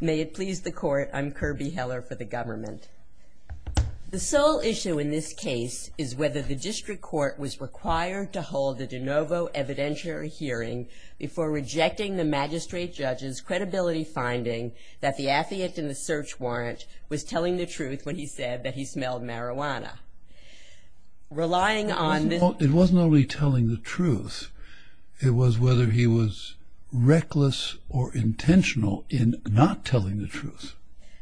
May it please the court, I'm Kirby Heller for the government. The sole issue in this case is whether the district court was required to hold a de novo evidentiary hearing before rejecting the magistrate judge's credibility finding that the affidavit in the search warrant was telling the truth when he said that he smelled marijuana. It wasn't only telling the truth, it was whether he was reckless or intentional in not telling the truth.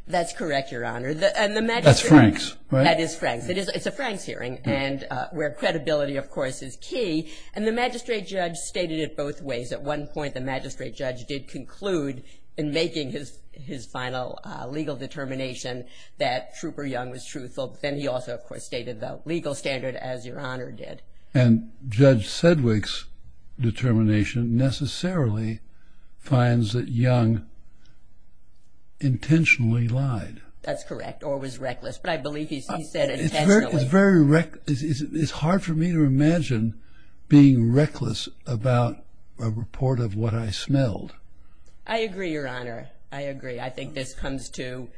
That's correct your honor. That's Franks. That is Franks. It's a Franks hearing and where credibility of course is key and the magistrate judge stated it both ways. At one point the magistrate judge did conclude in making his final legal determination that Trooper Young was truthful. Then he also of course stated the legal standard as your honor did. And Judge Sedgwick's determination necessarily finds that Young intentionally lied. That's correct or was reckless but I believe he said it intentionally. It's hard for me to imagine being reckless about a report of what I smelled. I agree your honor. I agree. I think this comes to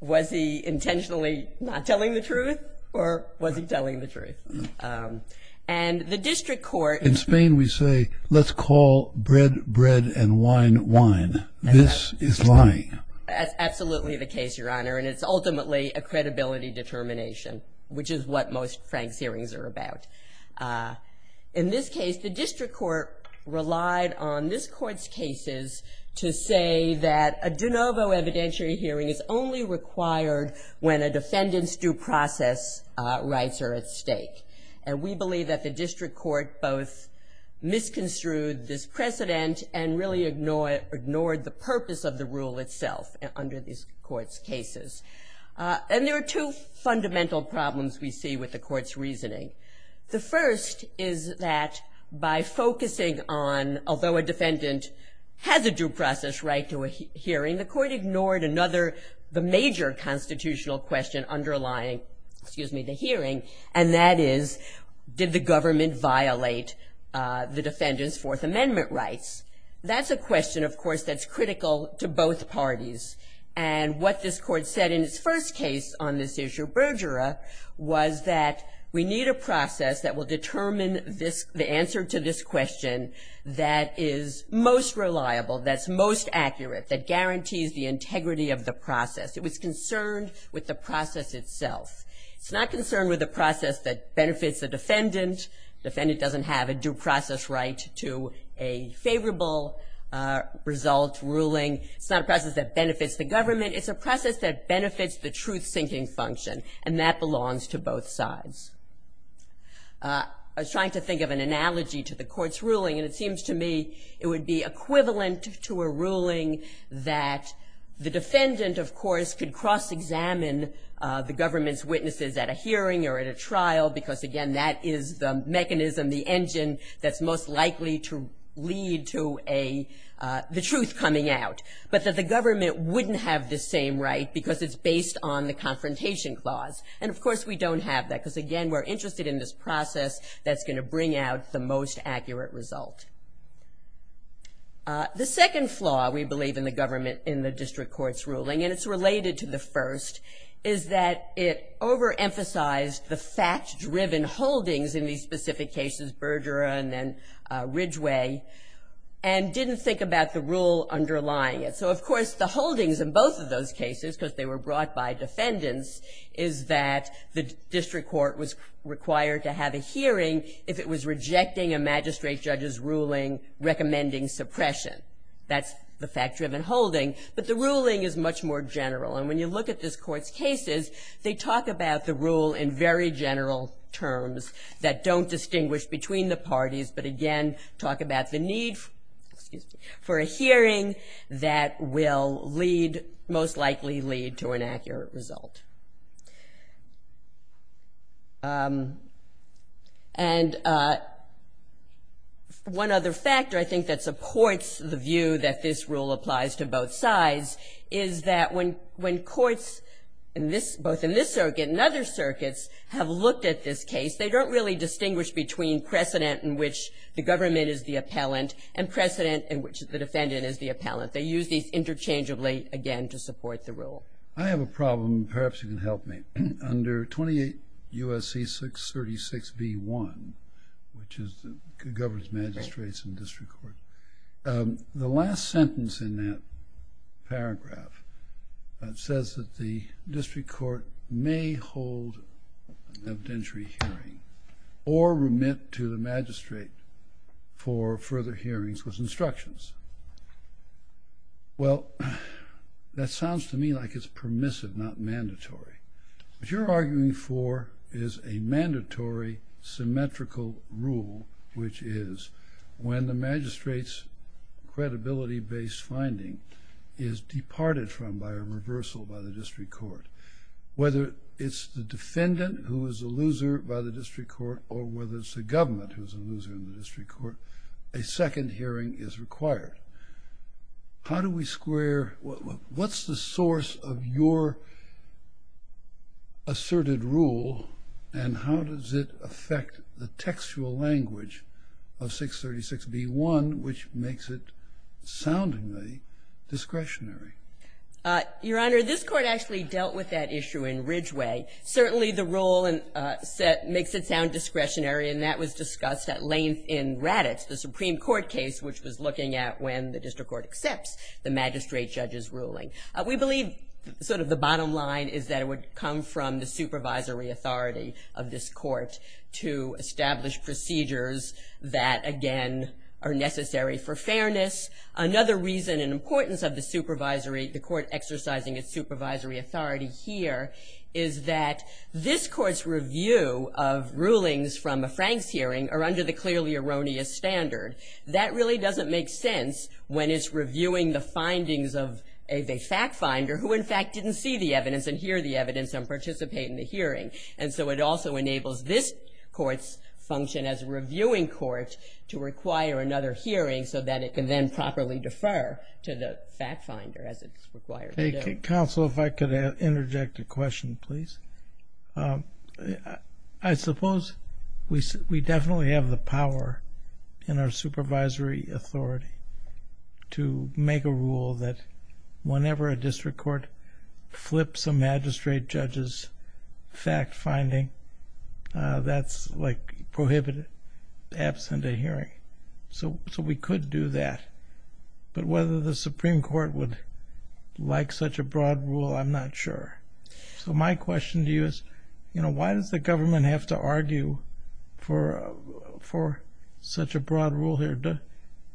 was he intentionally not telling the truth or was he telling the truth? And the district court. In Spain we say let's call bread, bread and wine, wine. This is lying. That's absolutely the case your honor and it's ultimately a credibility determination which is what most Franks hearings are about. In this case the district court relied on this court's cases to say that a de novo evidentiary hearing is only required when a defendant's due process rights are at stake. And we believe that the district court both misconstrued this precedent and really ignored the purpose of the rule itself under this court's cases. And there are two fundamental problems we see with the court's reasoning. The first is that by focusing on although a defendant has a due process right to a hearing, the court ignored another major constitutional question underlying the hearing and that is did the government violate the defendant's Fourth Amendment rights. That's a question of course that's critical to both parties and what this court said in its first case on this issue, Bergera, was that we need a process that will determine the answer to this question that is most reliable, that's most accurate, that guarantees the integrity of the process. It was concerned with the process itself. It's not concerned with the process that benefits the defendant. The defendant doesn't have a due process right to a favorable result ruling. It's not a process that benefits the government. It's a process that benefits the truth-seeking function and that belongs to both sides. I was trying to think of an analogy to the court's ruling and it seems to me it would be equivalent to a ruling that the defendant, of course, could cross-examine the government's witnesses at a hearing or at a trial because, again, that is the mechanism, the engine that's most likely to lead to the truth coming out, but that the government wouldn't have the same right because it's based on the confrontation clause and, of course, we don't have that because, again, we're interested in this process that's going to bring out the most accurate result. The second flaw, we believe, in the government in the district court's ruling, and it's related to the first, is that it overemphasized the fact-driven holdings in these specific cases, Bergera and then Ridgway, and didn't think about the rule underlying it. So, of course, the holdings in both of those cases, because they were brought by defendants, is that the district court was required to have a hearing if it was rejecting a magistrate judge's ruling recommending suppression. That's the fact-driven holding, but the ruling is much more general, and when you look at this court's cases, they talk about the rule in very general terms that don't distinguish between the parties, but, again, talk about the need for a hearing that will most likely lead to an accurate result. And one other factor, I think, that supports the view that this rule applies to both sides is that when courts, both in this circuit and other circuits, have looked at this case, they don't really distinguish between precedent in which the government is the appellant and precedent in which the defendant is the appellant. They use these interchangeably, again, to support the rule. Well, I have a problem, and perhaps you can help me. Under 28 U.S.C. 636 v. 1, which governs magistrates and district courts, the last sentence in that paragraph says that the district court may hold an evidentiary hearing or remit to the magistrate for further hearings with instructions. Well, that sounds to me like it's permissive, not mandatory. What you're arguing for is a mandatory, symmetrical rule, which is when the magistrate's credibility-based finding is departed from by a reversal by the district court. Whether it's the defendant who is a loser by the district court or whether it's the government who is a loser in the district court, a second hearing is required. How do we square what's the source of your asserted rule and how does it affect the textual language of 636 v. 1, which makes it soundingly discretionary? Your Honor, this Court actually dealt with that issue in Ridgeway. Certainly the rule makes it sound discretionary, and that was discussed at length in Raddatz, the Supreme Court case, which was looking at when the district court accepts the magistrate judge's ruling. We believe sort of the bottom line is that it would come from the supervisory authority of this Court to establish procedures that, again, are necessary for fairness. Another reason and importance of the Court exercising its supervisory authority here is that this Court's review of rulings from a Franks hearing are under the clearly erroneous standard. That really doesn't make sense when it's reviewing the findings of a fact finder who, in fact, didn't see the evidence and hear the evidence and participate in the hearing. And so it also enables this Court's function as a reviewing court to require another hearing so that it can then properly defer to the fact finder as it's required to do. Counsel, if I could interject a question, please. I suppose we definitely have the power in our supervisory authority to make a rule that whenever a district court flips a magistrate judge's fact finding, that's like prohibited absent a hearing. So we could do that. But whether the Supreme Court would like such a broad rule, I'm not sure. So my question to you is, you know, why does the government have to argue for such a broad rule here?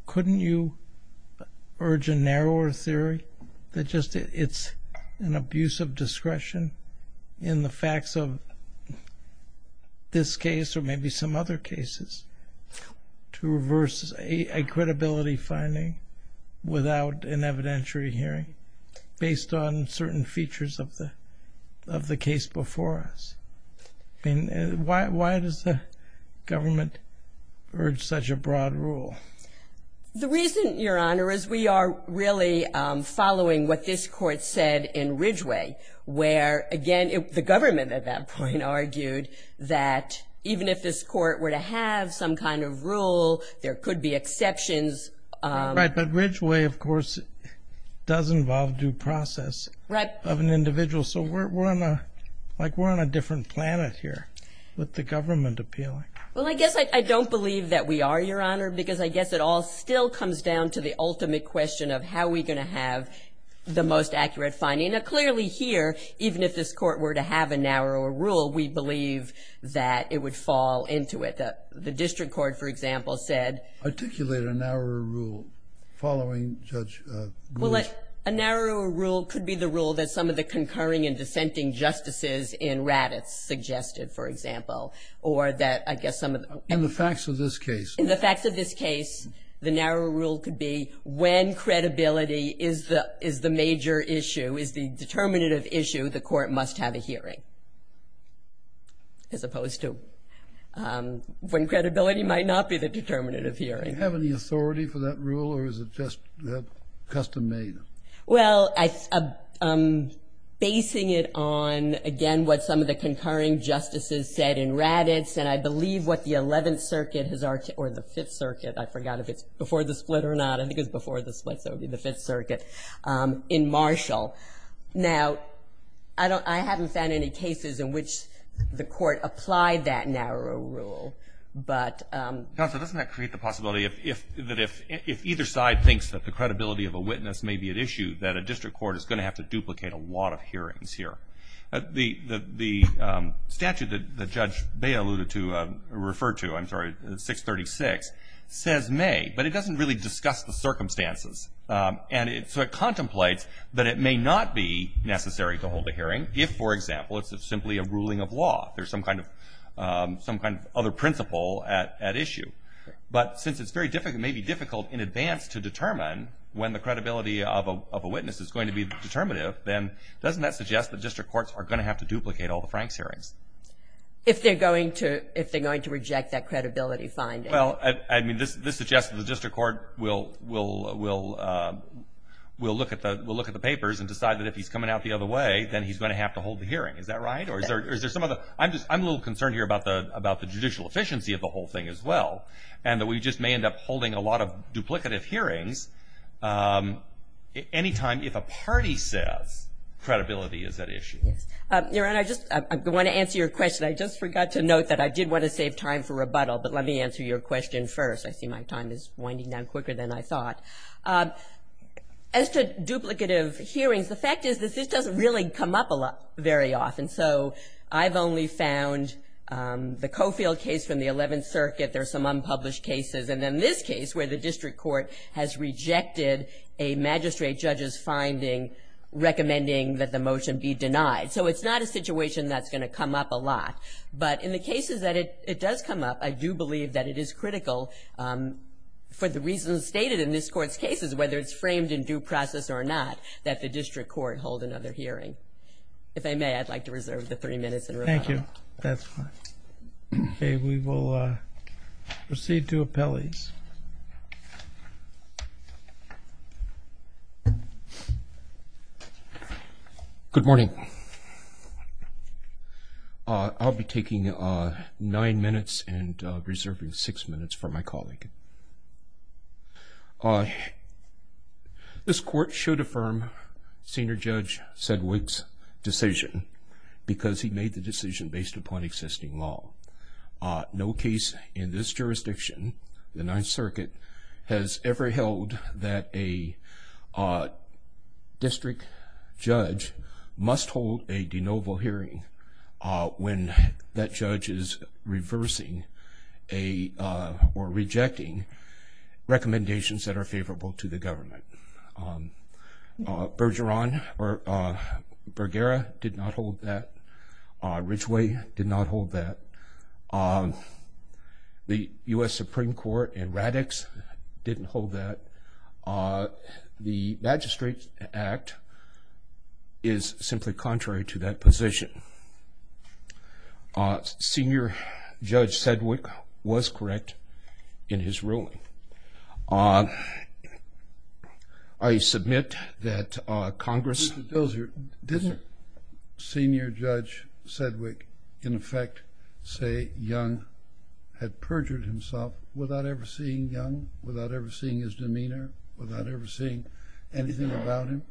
Couldn't you urge a narrower theory that just it's an abuse of discretion in the facts of this case or maybe some other cases to reverse a credibility finding without an evidentiary hearing based on certain features of the case before us? I mean, why does the government urge such a broad rule? The reason, Your Honor, is we are really following what this Court said in Ridgeway where, again, the government at that point argued that even if this Court were to have some kind of rule, there could be exceptions. Right, but Ridgeway, of course, does involve due process of an individual. So we're on a different planet here with the government appealing. Well, I guess I don't believe that we are, Your Honor, because I guess it all still comes down to the ultimate question of how are we going to have the most accurate finding. Now, clearly here, even if this Court were to have a narrower rule, we believe that it would fall into it. The district court, for example, said – Articulate a narrower rule following Judge Ridge. Well, a narrower rule could be the rule that some of the concurring and dissenting justices in Raddatz suggested, for example, or that I guess some of – In the facts of this case. In the facts of this case, the narrower rule could be when credibility is the major issue, is the determinative issue, the court must have a hearing, as opposed to when credibility might not be the determinative hearing. Do you have any authority for that rule, or is it just custom made? Well, basing it on, again, what some of the concurring justices said in Raddatz and I believe what the 11th Circuit has – or the 5th Circuit. I forgot if it's before the split or not. I think it's before the split, so it would be the 5th Circuit in Marshall. Now, I haven't found any cases in which the court applied that narrower rule, but – Counsel, doesn't that create the possibility that if either side thinks that the credibility of a witness may be at issue, that a district court is going to have to duplicate a lot of hearings here? The statute that Judge Bay alluded to, referred to, I'm sorry, 636, says may, but it doesn't really discuss the circumstances. And so it contemplates that it may not be necessary to hold a hearing if, for example, it's simply a ruling of law. There's some kind of other principle at issue. But since it's very difficult, maybe difficult in advance to determine when the credibility of a witness is going to be determinative, then doesn't that suggest that district courts are going to have to duplicate all the Franks hearings? If they're going to reject that credibility finding. Well, I mean, this suggests that the district court will look at the papers and decide that if he's coming out the other way, then he's going to have to hold the hearing. Is that right? I'm a little concerned here about the judicial efficiency of the whole thing as well, and that we just may end up holding a lot of duplicative hearings any time if a party says credibility is at issue. Your Honor, I just want to answer your question. I just forgot to note that I did want to save time for rebuttal, but let me answer your question first. I see my time is winding down quicker than I thought. As to duplicative hearings, the fact is that this doesn't really come up very often. So I've only found the Coffield case from the 11th Circuit. There's some unpublished cases. And then this case where the district court has rejected a magistrate judge's finding recommending that the motion be denied. So it's not a situation that's going to come up a lot. But in the cases that it does come up, I do believe that it is critical, for the reasons stated in this Court's cases, whether it's framed in due process or not, that the district court hold another hearing. If I may, I'd like to reserve the three minutes in rebuttal. Thank you. That's fine. Okay, we will proceed to appellees. Please. Good morning. I'll be taking nine minutes and reserving six minutes for my colleague. This Court should affirm Senior Judge Sedgwick's decision because he made the decision based upon existing law. No case in this jurisdiction, the 9th Circuit, has ever held that a district judge must hold a de novo hearing when that judge is reversing or rejecting recommendations that are favorable to the government. Bergara did not hold that. Ridgway did not hold that. The U.S. Supreme Court and RADx didn't hold that. The Magistrate Act is simply contrary to that position. Senior Judge Sedgwick was correct in his ruling. I submit that Congress Mr. Dozier, didn't Senior Judge Sedgwick, in effect, say Young had perjured himself without ever seeing Young, without ever seeing his demeanor, without ever seeing anything about him?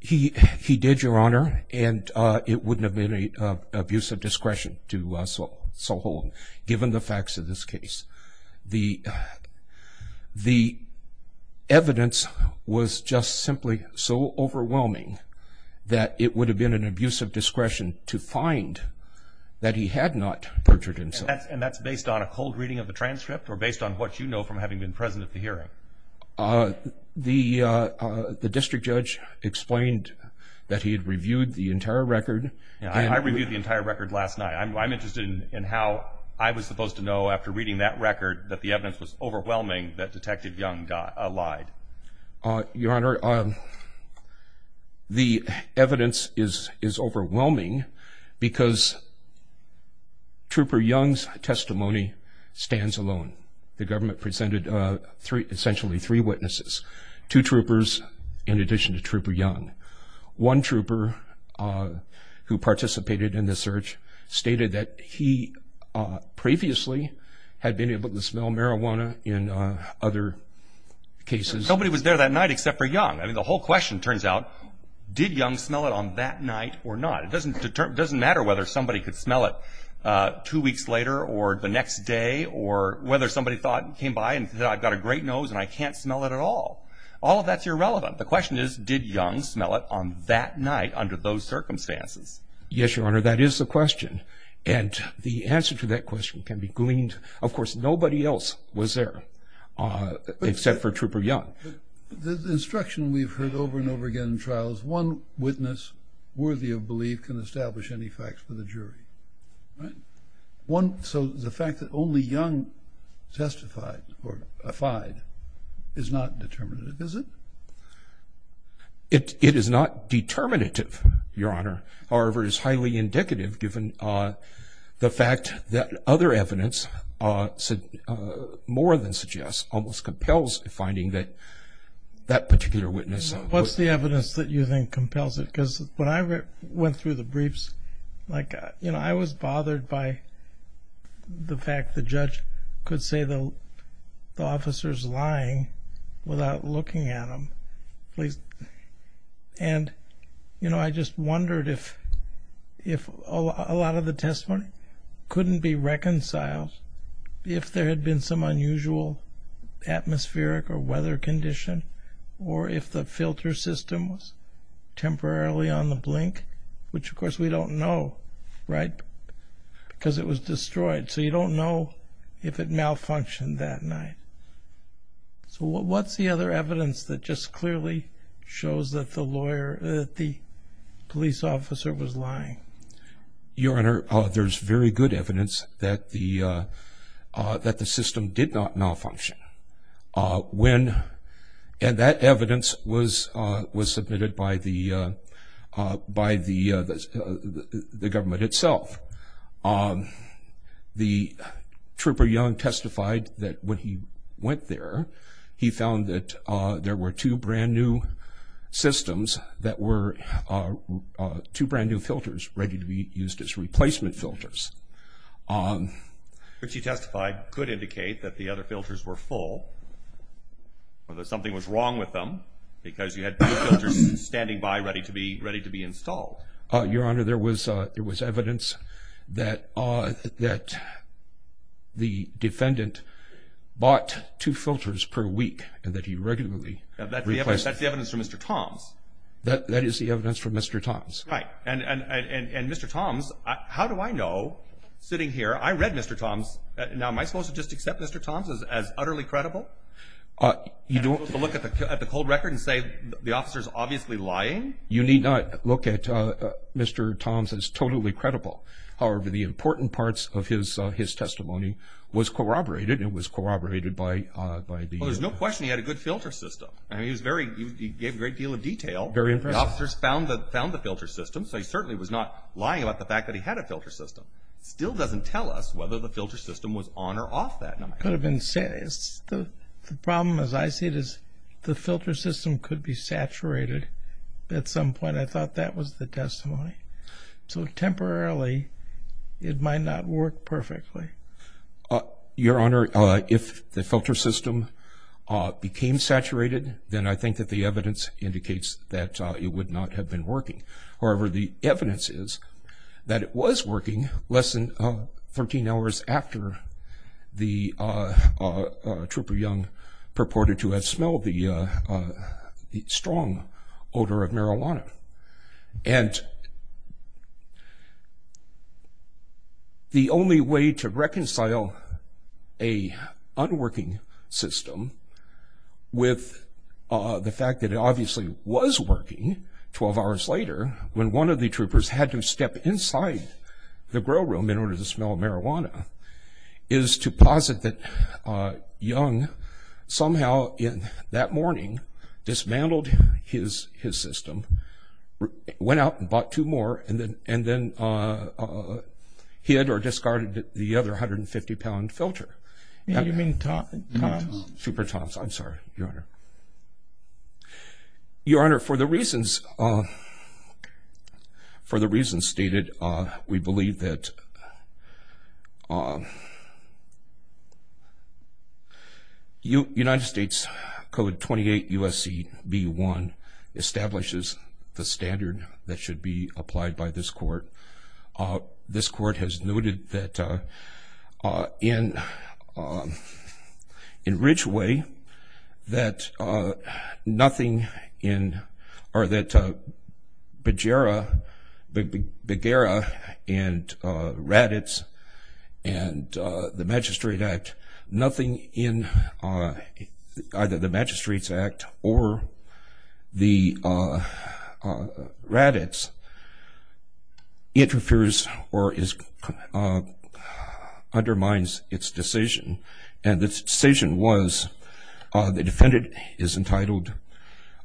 He did, Your Honor, and it wouldn't have been an abuse of discretion to so hold him, given the facts of this case. The evidence was just simply so overwhelming that it would have been an abuse of discretion to find that he had not perjured himself. And that's based on a cold reading of the transcript or based on what you know from having been present at the hearing? The district judge explained that he had reviewed the entire record. I reviewed the entire record last night. I'm interested in how I was supposed to know after reading that record that the evidence was overwhelming that Detective Young lied. Your Honor, the evidence is overwhelming because Trooper Young's testimony stands alone. The government presented essentially three witnesses, two troopers in addition to Trooper Young. One trooper who participated in the search stated that he previously had been able to smell marijuana in other cases. Nobody was there that night except for Young. I mean, the whole question turns out, did Young smell it on that night or not? It doesn't matter whether somebody could smell it two weeks later or the next day or whether somebody thought and came by and said, I've got a great nose and I can't smell it at all. All of that's irrelevant. The question is, did Young smell it on that night under those circumstances? Yes, Your Honor, that is the question, and the answer to that question can be gleaned. Of course, nobody else was there except for Trooper Young. The instruction we've heard over and over again in trials, one witness worthy of belief can establish any facts for the jury, right? So the fact that only Young testified or defied is not determinative, is it? It is not determinative, Your Honor. However, it is highly indicative given the fact that other evidence more than suggests almost compels the finding that that particular witness. What's the evidence that you think compels it? Because when I went through the briefs, I was bothered by the fact the judge could say the officer is lying without looking at him. I just wondered if a lot of the testimony couldn't be reconciled if there had been some unusual atmospheric or weather condition or if the filter system was temporarily on the blink, which of course we don't know, right, because it was destroyed. So you don't know if it malfunctioned that night. So what's the other evidence that just clearly shows that the police officer was lying? Your Honor, there's very good evidence that the system did not malfunction. And that evidence was submitted by the government itself. The trooper Young testified that when he went there, he found that there were two brand-new systems that were two brand-new filters ready to be used as replacement filters. Which he testified could indicate that the other filters were full or that something was wrong with them because you had two filters standing by ready to be installed. Your Honor, there was evidence that the defendant bought two filters per week and that he regularly replaced them. That's the evidence from Mr. Toms. That is the evidence from Mr. Toms. Right. And Mr. Toms, how do I know, sitting here, I read Mr. Toms. Now, am I supposed to just accept Mr. Toms as utterly credible? You don't look at the cold record and say the officer's obviously lying? You need not look at Mr. Toms as totally credible. However, the important parts of his testimony was corroborated and it was corroborated by the— Well, there's no question he had a good filter system. I mean, he gave a great deal of detail. Very impressive. The officers found the filter system, so he certainly was not lying about the fact that he had a filter system. Still doesn't tell us whether the filter system was on or off that night. The problem, as I see it, is the filter system could be saturated at some point. I thought that was the testimony. So temporarily it might not work perfectly. Your Honor, if the filter system became saturated, then I think that the evidence indicates that it would not have been working. However, the evidence is that it was working less than 13 hours after the Trooper Young purported to have smelled the strong odor of marijuana. And the only way to reconcile an unworking system with the fact that it obviously was working 12 hours later when one of the Troopers had to step inside the grill room in order to smell marijuana is to posit that Young somehow in that morning dismantled his system, went out and bought two more, and then hid or discarded the other 150-pound filter. You mean Toms? Trooper Toms, I'm sorry, Your Honor. Your Honor, for the reasons stated, we believe that United States Code 28 U.S.C.B.1 establishes the standard that should be applied by this Court. This Court has noted that in Ridgeway that nothing in, or that Bagheera and Raddatz and the Magistrate Act, nothing in either the Magistrate's Act or the Raddatz interferes or undermines its decision. And this decision was the defendant is entitled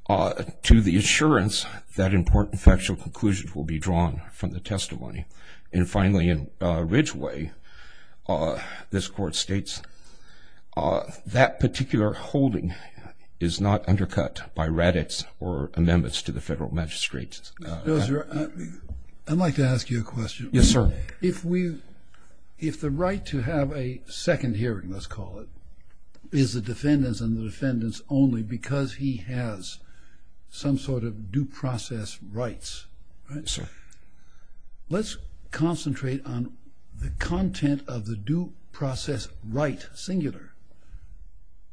to the assurance that important factual conclusions will be drawn from the testimony. And finally, in Ridgeway, this Court states that particular holding is not undercut by Raddatz or amendments to the Federal Magistrate's Act. I'd like to ask you a question. Yes, sir. If the right to have a second hearing, let's call it, is the defendant's and the defendant's only because he has some sort of due process rights, let's concentrate on the content of the due process right, singular,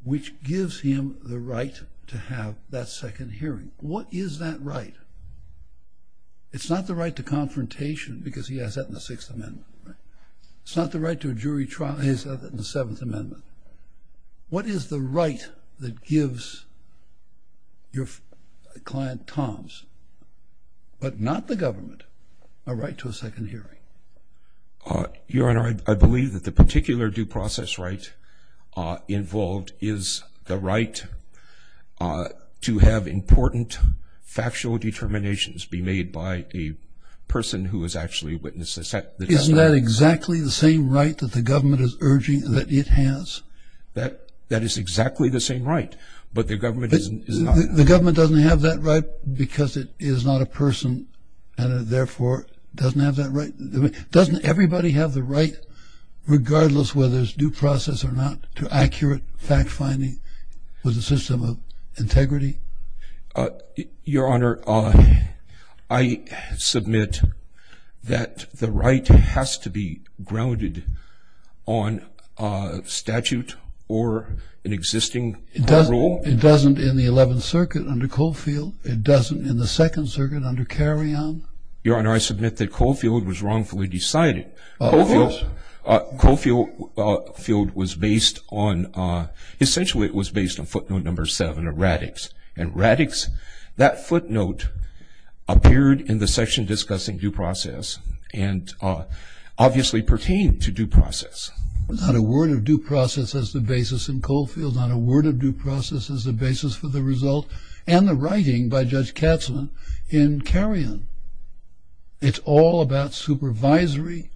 which gives him the right to have that second hearing. What is that right? It's not the right to confrontation because he has that in the Sixth Amendment. It's not the right to a jury trial. He has that in the Seventh Amendment. What is the right that gives your client, Toms, but not the government, a right to a second hearing? Your Honor, I believe that the particular due process right involved is the right to have important factual determinations be made by a person who has actually witnessed the testimony. Isn't that exactly the same right that the government is urging that it has? That is exactly the same right, but the government is not. The government doesn't have that right because it is not a person and therefore doesn't have that right. Doesn't everybody have the right, regardless whether it's due process or not, Your Honor, I submit that the right has to be grounded on statute or an existing rule. It doesn't in the Eleventh Circuit under Coffield. It doesn't in the Second Circuit under Carrion. Your Honor, I submit that Coffield was wrongfully decided. Coffield was based on, essentially it was based on footnote number seven of Raddix, and Raddix, that footnote appeared in the section discussing due process and obviously pertained to due process. Not a word of due process as the basis in Coffield, not a word of due process as the basis for the result and the writing by Judge Katzmann in Carrion. It's all about supervisory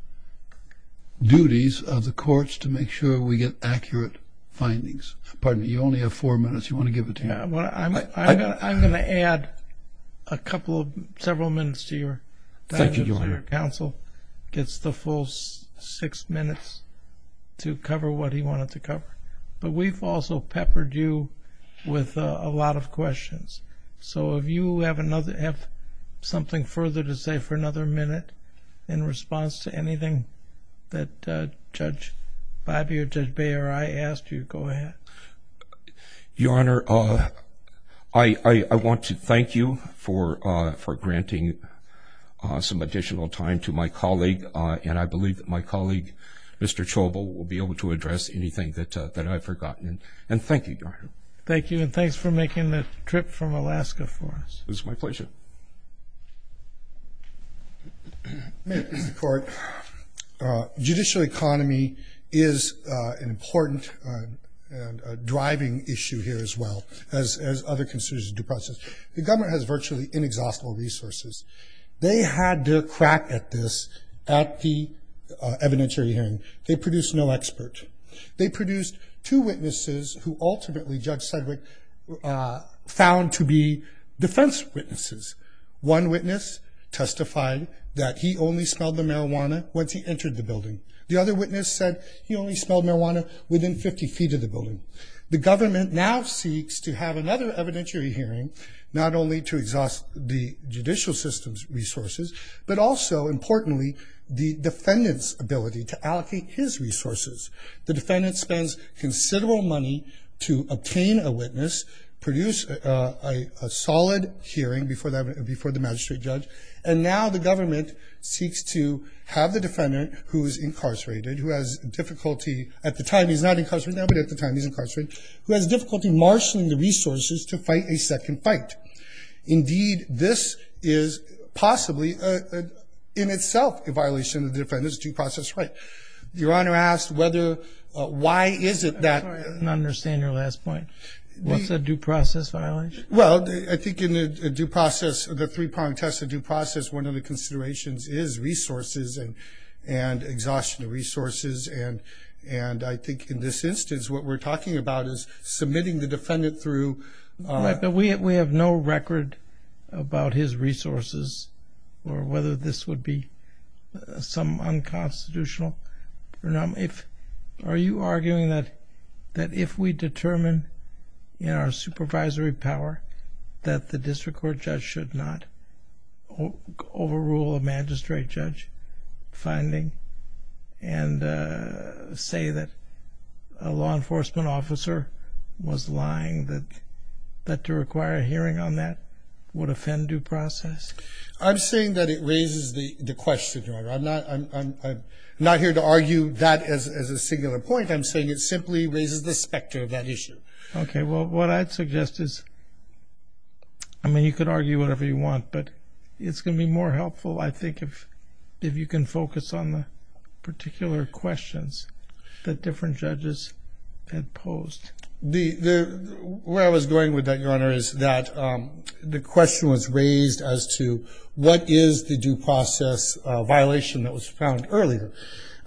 duties of the courts to make sure we get accurate findings. Pardon me, you only have four minutes. You want to give it to me? I'm going to add a couple of several minutes to your time. Thank you, Your Honor. Counsel gets the full six minutes to cover what he wanted to cover, but we've also peppered you with a lot of questions. So if you have something further to say for another minute in response to anything that Judge Bobbie or Judge Bayer or I asked you, go ahead. Your Honor, I want to thank you for granting some additional time to my colleague, and I believe that my colleague, Mr. Chobo, will be able to address anything that I've forgotten. And thank you, Your Honor. Thank you, and thanks for making the trip from Alaska for us. It was my pleasure. Mr. Court, judicial economy is an important and driving issue here as well, as other constituents of due process. The government has virtually inexhaustible resources. They had to crack at this at the evidentiary hearing. They produced no expert. They produced two witnesses who ultimately Judge Sedgwick found to be defense witnesses. One witness testified that he only smelled the marijuana once he entered the building. The other witness said he only smelled marijuana within 50 feet of the building. The government now seeks to have another evidentiary hearing, but also, importantly, the defendant's ability to allocate his resources. The defendant spends considerable money to obtain a witness, produce a solid hearing before the magistrate judge, and now the government seeks to have the defendant, who is incarcerated, who has difficulty at the time he's not incarcerated now, but at the time he's incarcerated, who has difficulty marshaling the resources to fight a second fight. Indeed, this is possibly, in itself, a violation of the defendant's due process right. Your Honor asked whether why is it that. I don't understand your last point. What's a due process violation? Well, I think in the due process, the three-pronged test of due process, one of the considerations is resources and exhaustion of resources, and I think in this instance what we're talking about is submitting the defendant through. All right, but we have no record about his resources or whether this would be some unconstitutional. Are you arguing that if we determine in our supervisory power that the district court judge should not overrule a magistrate judge finding and say that a law enforcement officer was lying, that to require a hearing on that would offend due process? I'm saying that it raises the question, Your Honor. I'm not here to argue that as a singular point. I'm saying it simply raises the specter of that issue. Okay, well, what I'd suggest is, I mean, you could argue whatever you want, but it's going to be more helpful, I think, if you can focus on the particular questions that different judges had posed. Where I was going with that, Your Honor, is that the question was raised as to what is the due process violation that was found earlier.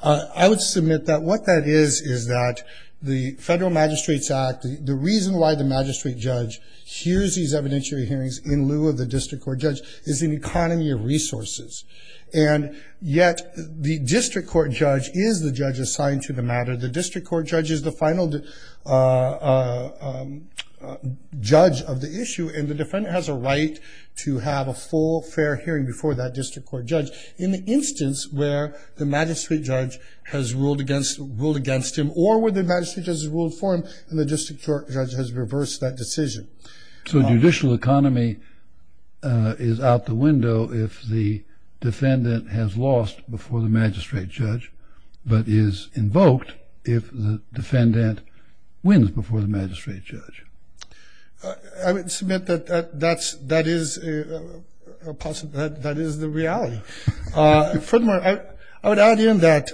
I would submit that what that is is that the Federal Magistrates Act, the reason why the magistrate judge hears these evidentiary hearings in lieu of the district court judge, is an economy of resources. And yet the district court judge is the judge assigned to the matter. The district court judge is the final judge of the issue, and the defendant has a right to have a full, fair hearing before that district court judge. In the instance where the magistrate judge has ruled against him or where the magistrate judge has ruled for him, and the district court judge has reversed that decision. So a judicial economy is out the window if the defendant has lost before the magistrate judge but is invoked if the defendant wins before the magistrate judge. I would submit that that is the reality. Furthermore, I would add in that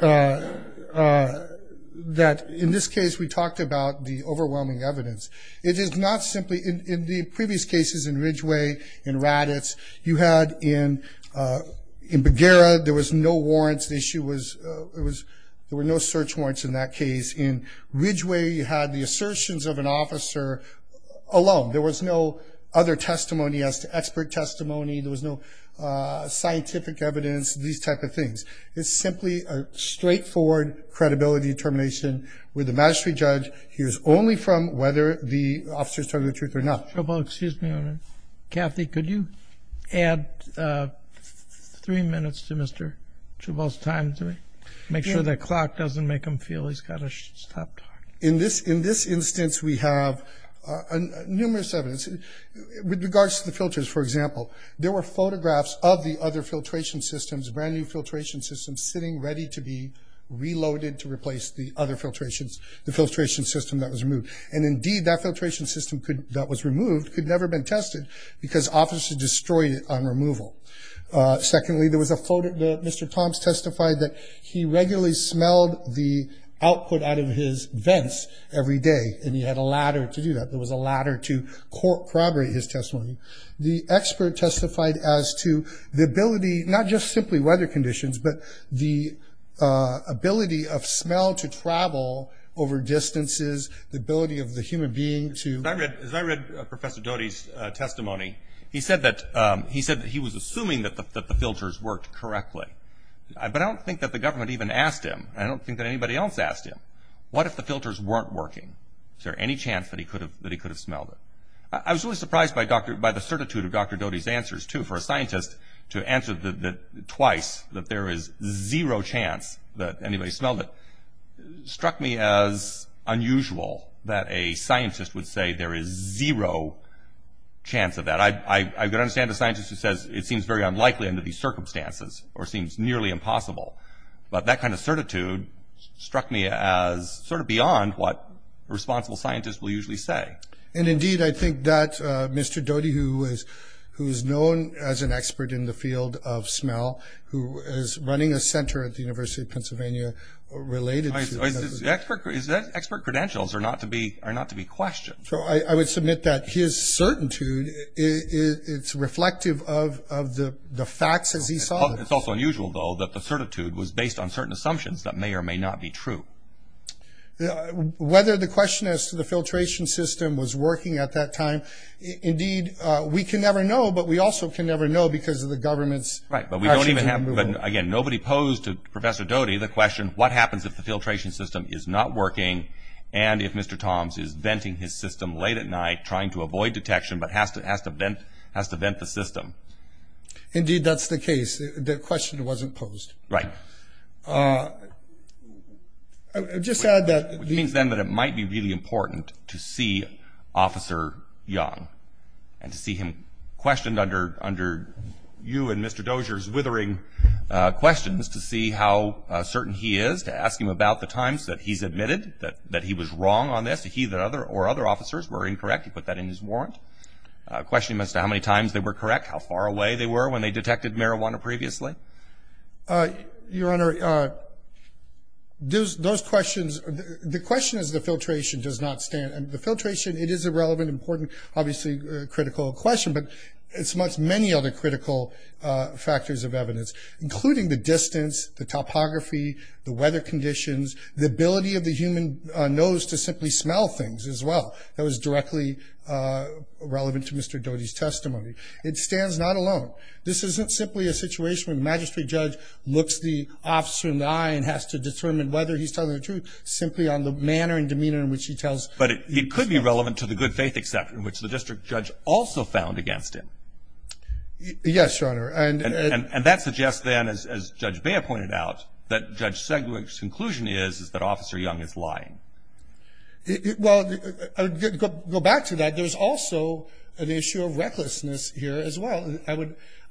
in this case we talked about the overwhelming evidence. It is not simply in the previous cases in Ridgeway, in Raddatz, you had in Bagheera there was no warrants. There were no search warrants in that case. In Ridgeway you had the assertions of an officer alone. There was no other testimony as to expert testimony. There was no scientific evidence, these type of things. It's simply a straightforward credibility determination where the magistrate judge hears only from whether the officer is telling the truth or not. Excuse me. Kathy, could you add three minutes to Mr. Chabot's time? Make sure the clock doesn't make him feel he's got to stop talking. In this instance we have numerous evidence. With regards to the filters, for example, there were photographs of the other filtration systems, brand-new filtration systems sitting ready to be reloaded to replace the other filtrations, the filtration system that was removed. And indeed, that filtration system that was removed could never have been tested because officers destroyed it on removal. Secondly, there was a photo that Mr. Thompson testified that he regularly smelled the output out of his vents every day, and he had a ladder to do that. There was a ladder to corroborate his testimony. The expert testified as to the ability, not just simply weather conditions, but the ability of smell to travel over distances, the ability of the human being to… As I read Professor Doty's testimony, he said that he was assuming that the filters worked correctly. But I don't think that the government even asked him. I don't think that anybody else asked him. What if the filters weren't working? Is there any chance that he could have smelled it? I was really surprised by the certitude of Dr. Doty's answers, too, for a scientist to answer twice that there is zero chance that anybody smelled it. It struck me as unusual that a scientist would say there is zero chance of that. I can understand a scientist who says it seems very unlikely under these circumstances or seems nearly impossible, but that kind of certitude struck me as sort of beyond what responsible scientists will usually say. Indeed, I think that Mr. Doty, who is known as an expert in the field of smell, who is running a center at the University of Pennsylvania related to… Expert credentials are not to be questioned. I would submit that his certitude is reflective of the facts as he saw them. It's also unusual, though, that the certitude was based on certain assumptions that may or may not be true. Whether the question as to the filtration system was working at that time, indeed, we can never know, but we also can never know because of the government's… Right, but we don't even have, again, nobody posed to Professor Doty the question, what happens if the filtration system is not working and if Mr. Toms is venting his system late at night trying to avoid detection but has to vent the system? Indeed, that's the case. The question wasn't posed. Right. I would just add that… Which means, then, that it might be really important to see Officer Young and to see him questioned under you and Mr. Dozier's withering questions to see how certain he is, to ask him about the times that he's admitted that he was wrong on this, that he or other officers were incorrect. He put that in his warrant. Question him as to how many times they were correct, how far away they were when they detected marijuana previously. Your Honor, those questions, the question is the filtration does not stand. The filtration, it is a relevant, important, obviously critical question, but it's much many other critical factors of evidence, including the distance, the topography, the weather conditions, the ability of the human nose to simply smell things as well. That was directly relevant to Mr. Doty's testimony. It stands not alone. This isn't simply a situation where the magistrate judge looks the officer in the eye and has to determine whether he's telling the truth, simply on the manner and demeanor in which he tells the truth. But it could be relevant to the good faith exception, which the district judge also found against him. Yes, Your Honor. And that suggests, then, as Judge Bea pointed out, that Judge Segwick's conclusion is that Officer Young is lying. Well, go back to that. There's also an issue of recklessness here as well. I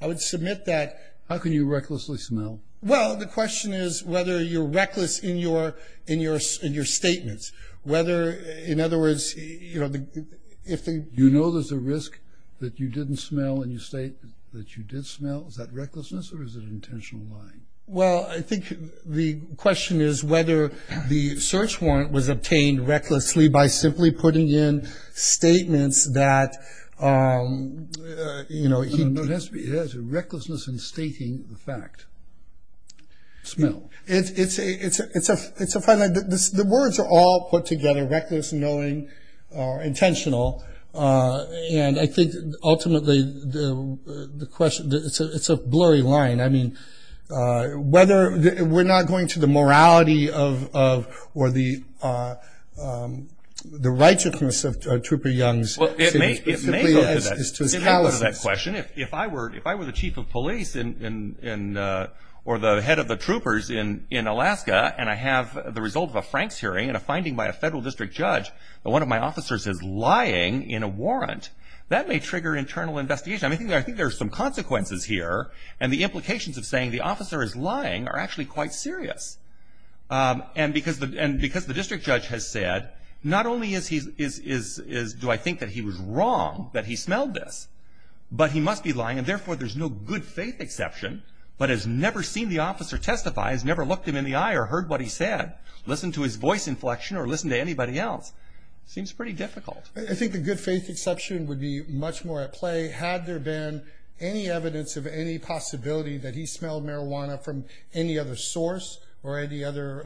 would submit that. How can you recklessly smell? Well, the question is whether you're reckless in your statements. Whether, in other words, you know, if the- Do you know there's a risk that you didn't smell and you state that you did smell? Is that recklessness or is it intentional lying? Well, I think the question is whether the search warrant was obtained recklessly by simply putting in statements that, you know, he- No, it has to be recklessness in stating the fact. Smell. It's a fine line. The words are all put together, reckless, knowing, intentional. And I think, ultimately, it's a blurry line. I mean, whether- We're not going to the morality of or the righteousness of Trooper Young's- Well, it may go to that. It may go to that question. If I were the chief of police or the head of the troopers in Alaska and I have the result of a Franks hearing and a finding by a federal district judge that one of my officers is lying in a warrant, that may trigger internal investigation. I mean, I think there are some consequences here. And the implications of saying the officer is lying are actually quite serious. And because the district judge has said, not only do I think that he was wrong that he smelled this, but he must be lying and, therefore, there's no good faith exception, but has never seen the officer testify, has never looked him in the eye or heard what he said, listened to his voice inflection, or listened to anybody else. It seems pretty difficult. I think the good faith exception would be much more at play had there been any evidence of any possibility that he smelled marijuana from any other source or any other-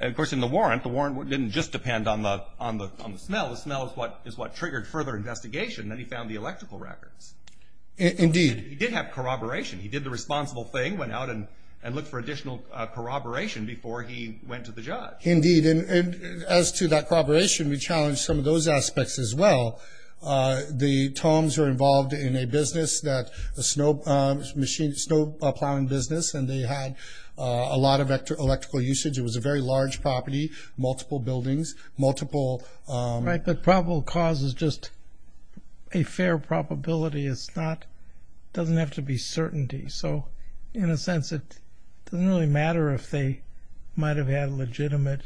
Of course, in the warrant, the warrant didn't just depend on the smell. The smell is what triggered further investigation. Then he found the electrical records. Indeed. He did have corroboration. He did the responsible thing, went out and looked for additional corroboration before he went to the judge. Indeed. And as to that corroboration, we challenged some of those aspects as well. The Toms were involved in a business, a snow plowing business, and they had a lot of electrical usage. It was a very large property, multiple buildings, multiple- Right, but probable cause is just a fair probability. It doesn't have to be certainty. So, in a sense, it doesn't really matter if they might have had legitimate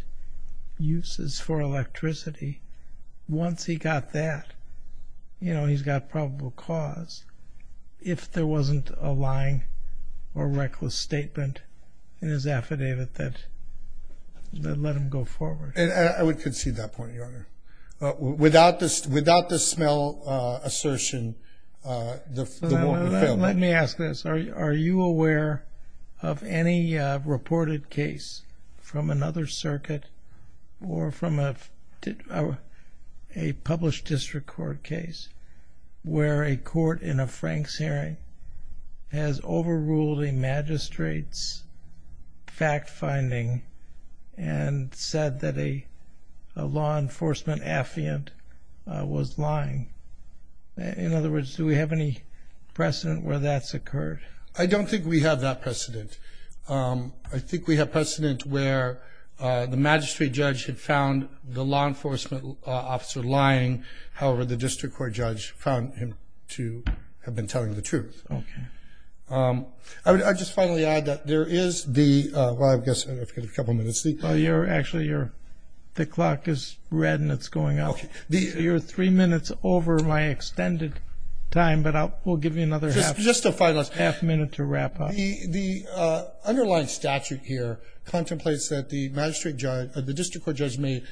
uses for electricity. Once he got that, you know, he's got probable cause. If there wasn't a lying or reckless statement in his affidavit that let him go forward. I would concede that point, Your Honor. Without the smell assertion, the warrant would have failed. Let me ask this. Are you aware of any reported case from another circuit or from a published district court case where a court in a Franks hearing has overruled a magistrate's fact-finding and said that a law enforcement affiant was lying? In other words, do we have any precedent where that's occurred? I don't think we have that precedent. I think we have precedent where the magistrate judge had found the law enforcement officer lying. However, the district court judge found him to have been telling the truth. Okay. I would just finally add that there is the-well, I've got a couple minutes. Actually, the clock is red and it's going up. You're three minutes over my extended time, but we'll give you another half minute to wrap up. The underlying statute here contemplates that the district court judge may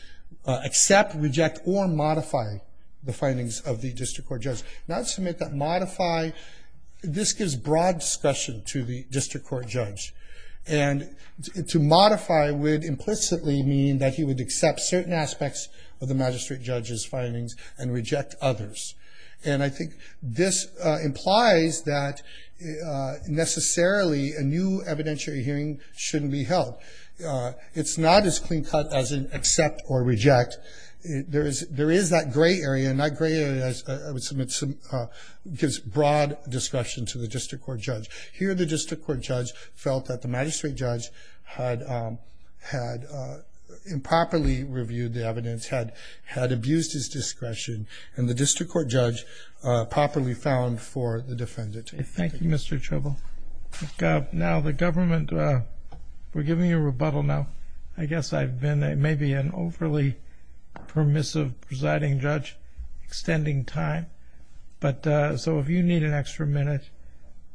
accept, reject, or modify the findings of the district court judge. Now, to make that modify, this gives broad discussion to the district court judge. And to modify would implicitly mean that he would accept certain aspects of the magistrate judge's findings and reject others. And I think this implies that necessarily a new evidentiary hearing shouldn't be held. It's not as clean-cut as an accept or reject. There is that gray area, and that gray area gives broad discussion to the district court judge. Here, the district court judge felt that the magistrate judge had improperly reviewed the evidence, had abused his discretion, and the district court judge properly found for the defendant. Thank you, Mr. Tribble. Now, the government, we're giving you a rebuttal now. I guess I've been maybe an overly permissive presiding judge extending time. So if you need an extra minute,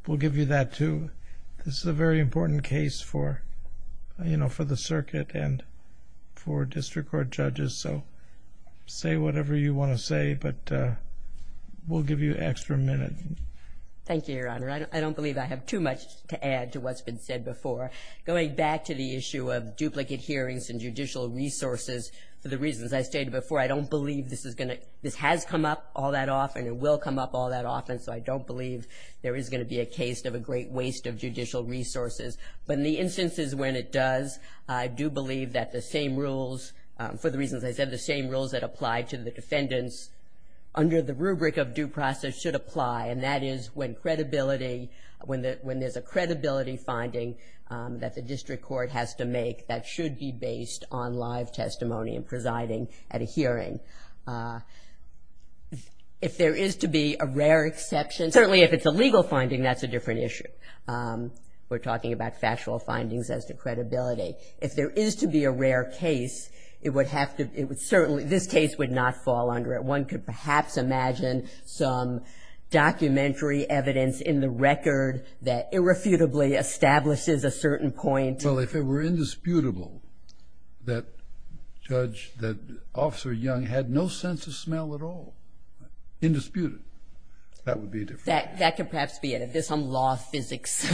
we'll give you that too. This is a very important case for the circuit and for district court judges, so say whatever you want to say, but we'll give you an extra minute. Thank you, Your Honor. I don't believe I have too much to add to what's been said before. Going back to the issue of duplicate hearings and judicial resources, for the reasons I stated before, I don't believe this has come up all that often, it will come up all that often, so I don't believe there is going to be a case of a great waste of judicial resources. But in the instances when it does, I do believe that the same rules, for the reasons I said, the same rules that apply to the defendants under the rubric of due process should apply, and that is when there's a credibility finding that the district court has to make that should be based on live testimony and presiding at a hearing. If there is to be a rare exception, certainly if it's a legal finding, that's a different issue. We're talking about factual findings as to credibility. If there is to be a rare case, it would have to, it would certainly, this case would not fall under it. One could perhaps imagine some documentary evidence in the record that irrefutably establishes a certain point. Well, if it were indisputable that Judge, that Officer Young had no sense of smell at all, indisputed, that would be different. That could perhaps be it. If there's some law physics,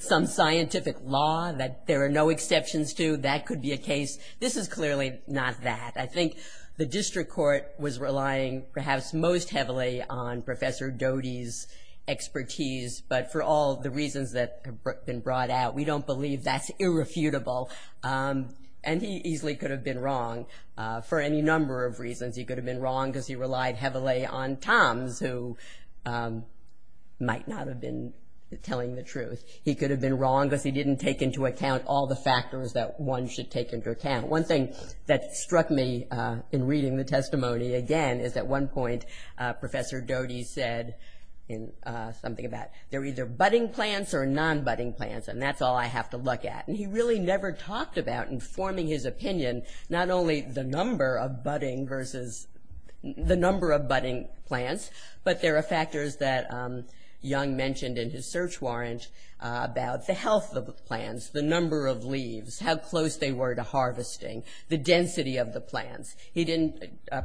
some scientific law that there are no exceptions to, that could be a case. This is clearly not that. I think the district court was relying perhaps most heavily on Professor Doty's expertise, but for all the reasons that have been brought out, we don't believe that's irrefutable. And he easily could have been wrong for any number of reasons. He could have been wrong because he relied heavily on Tom's, who might not have been telling the truth. He could have been wrong because he didn't take into account all the factors that one should take into account. One thing that struck me in reading the testimony, again, is at one point Professor Doty said something about, they're either budding plants or non-budding plants, and that's all I have to look at. And he really never talked about, in forming his opinion, not only the number of budding versus the number of budding plants, but there are factors that Young mentioned in his search warrant about the health of the plants, the number of leaves, how close they were to harvesting, the density of the plants.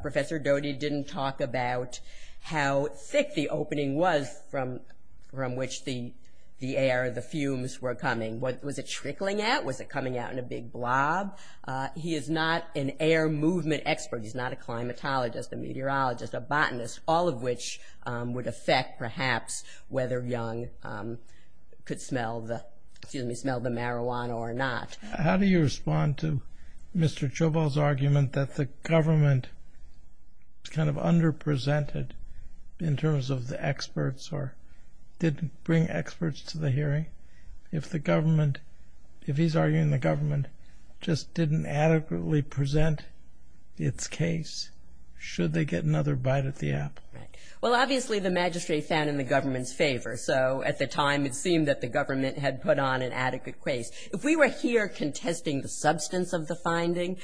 Professor Doty didn't talk about how thick the opening was from which the air, the fumes were coming. Was it trickling out? Was it coming out in a big blob? He is not an air movement expert. He's not a climatologist, a meteorologist, a botanist, all of which would affect perhaps whether Young could smell the marijuana or not. How do you respond to Mr. Jobel's argument that the government kind of under-presented in terms of the experts or didn't bring experts to the hearing? If the government, if he's arguing the government just didn't adequately present its case, should they get another bite at the app? Well, obviously the magistrate found in the government's favor, so at the time it seemed that the government had put on an adequate case. If we were here contesting the substance of the finding,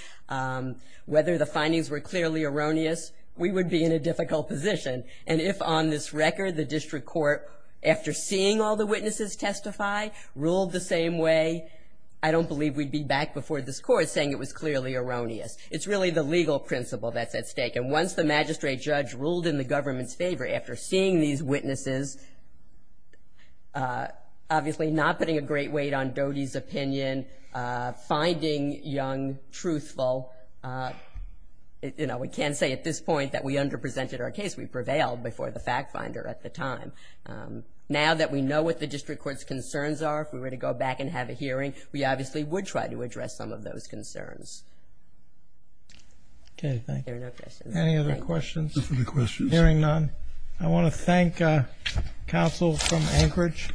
whether the findings were clearly erroneous, we would be in a difficult position. And if on this record the district court, after seeing all the witnesses testify, ruled the same way, I don't believe we'd be back before this court saying it was clearly erroneous. It's really the legal principle that's at stake. And once the magistrate judge ruled in the government's favor after seeing these witnesses, obviously not putting a great weight on Doty's opinion, finding Young truthful, you know, we can't say at this point that we under-presented our case. We prevailed before the fact finder at the time. Now that we know what the district court's concerns are, if we were to go back and have a hearing, we obviously would try to address some of those concerns. Okay, thank you. There are no questions. Any other questions? Hearing none, I want to thank counsel from Anchorage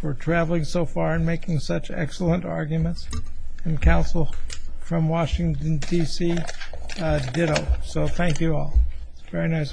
for traveling so far and making such excellent arguments, and counsel from Washington, D.C., ditto. So thank you all. Very nice argument.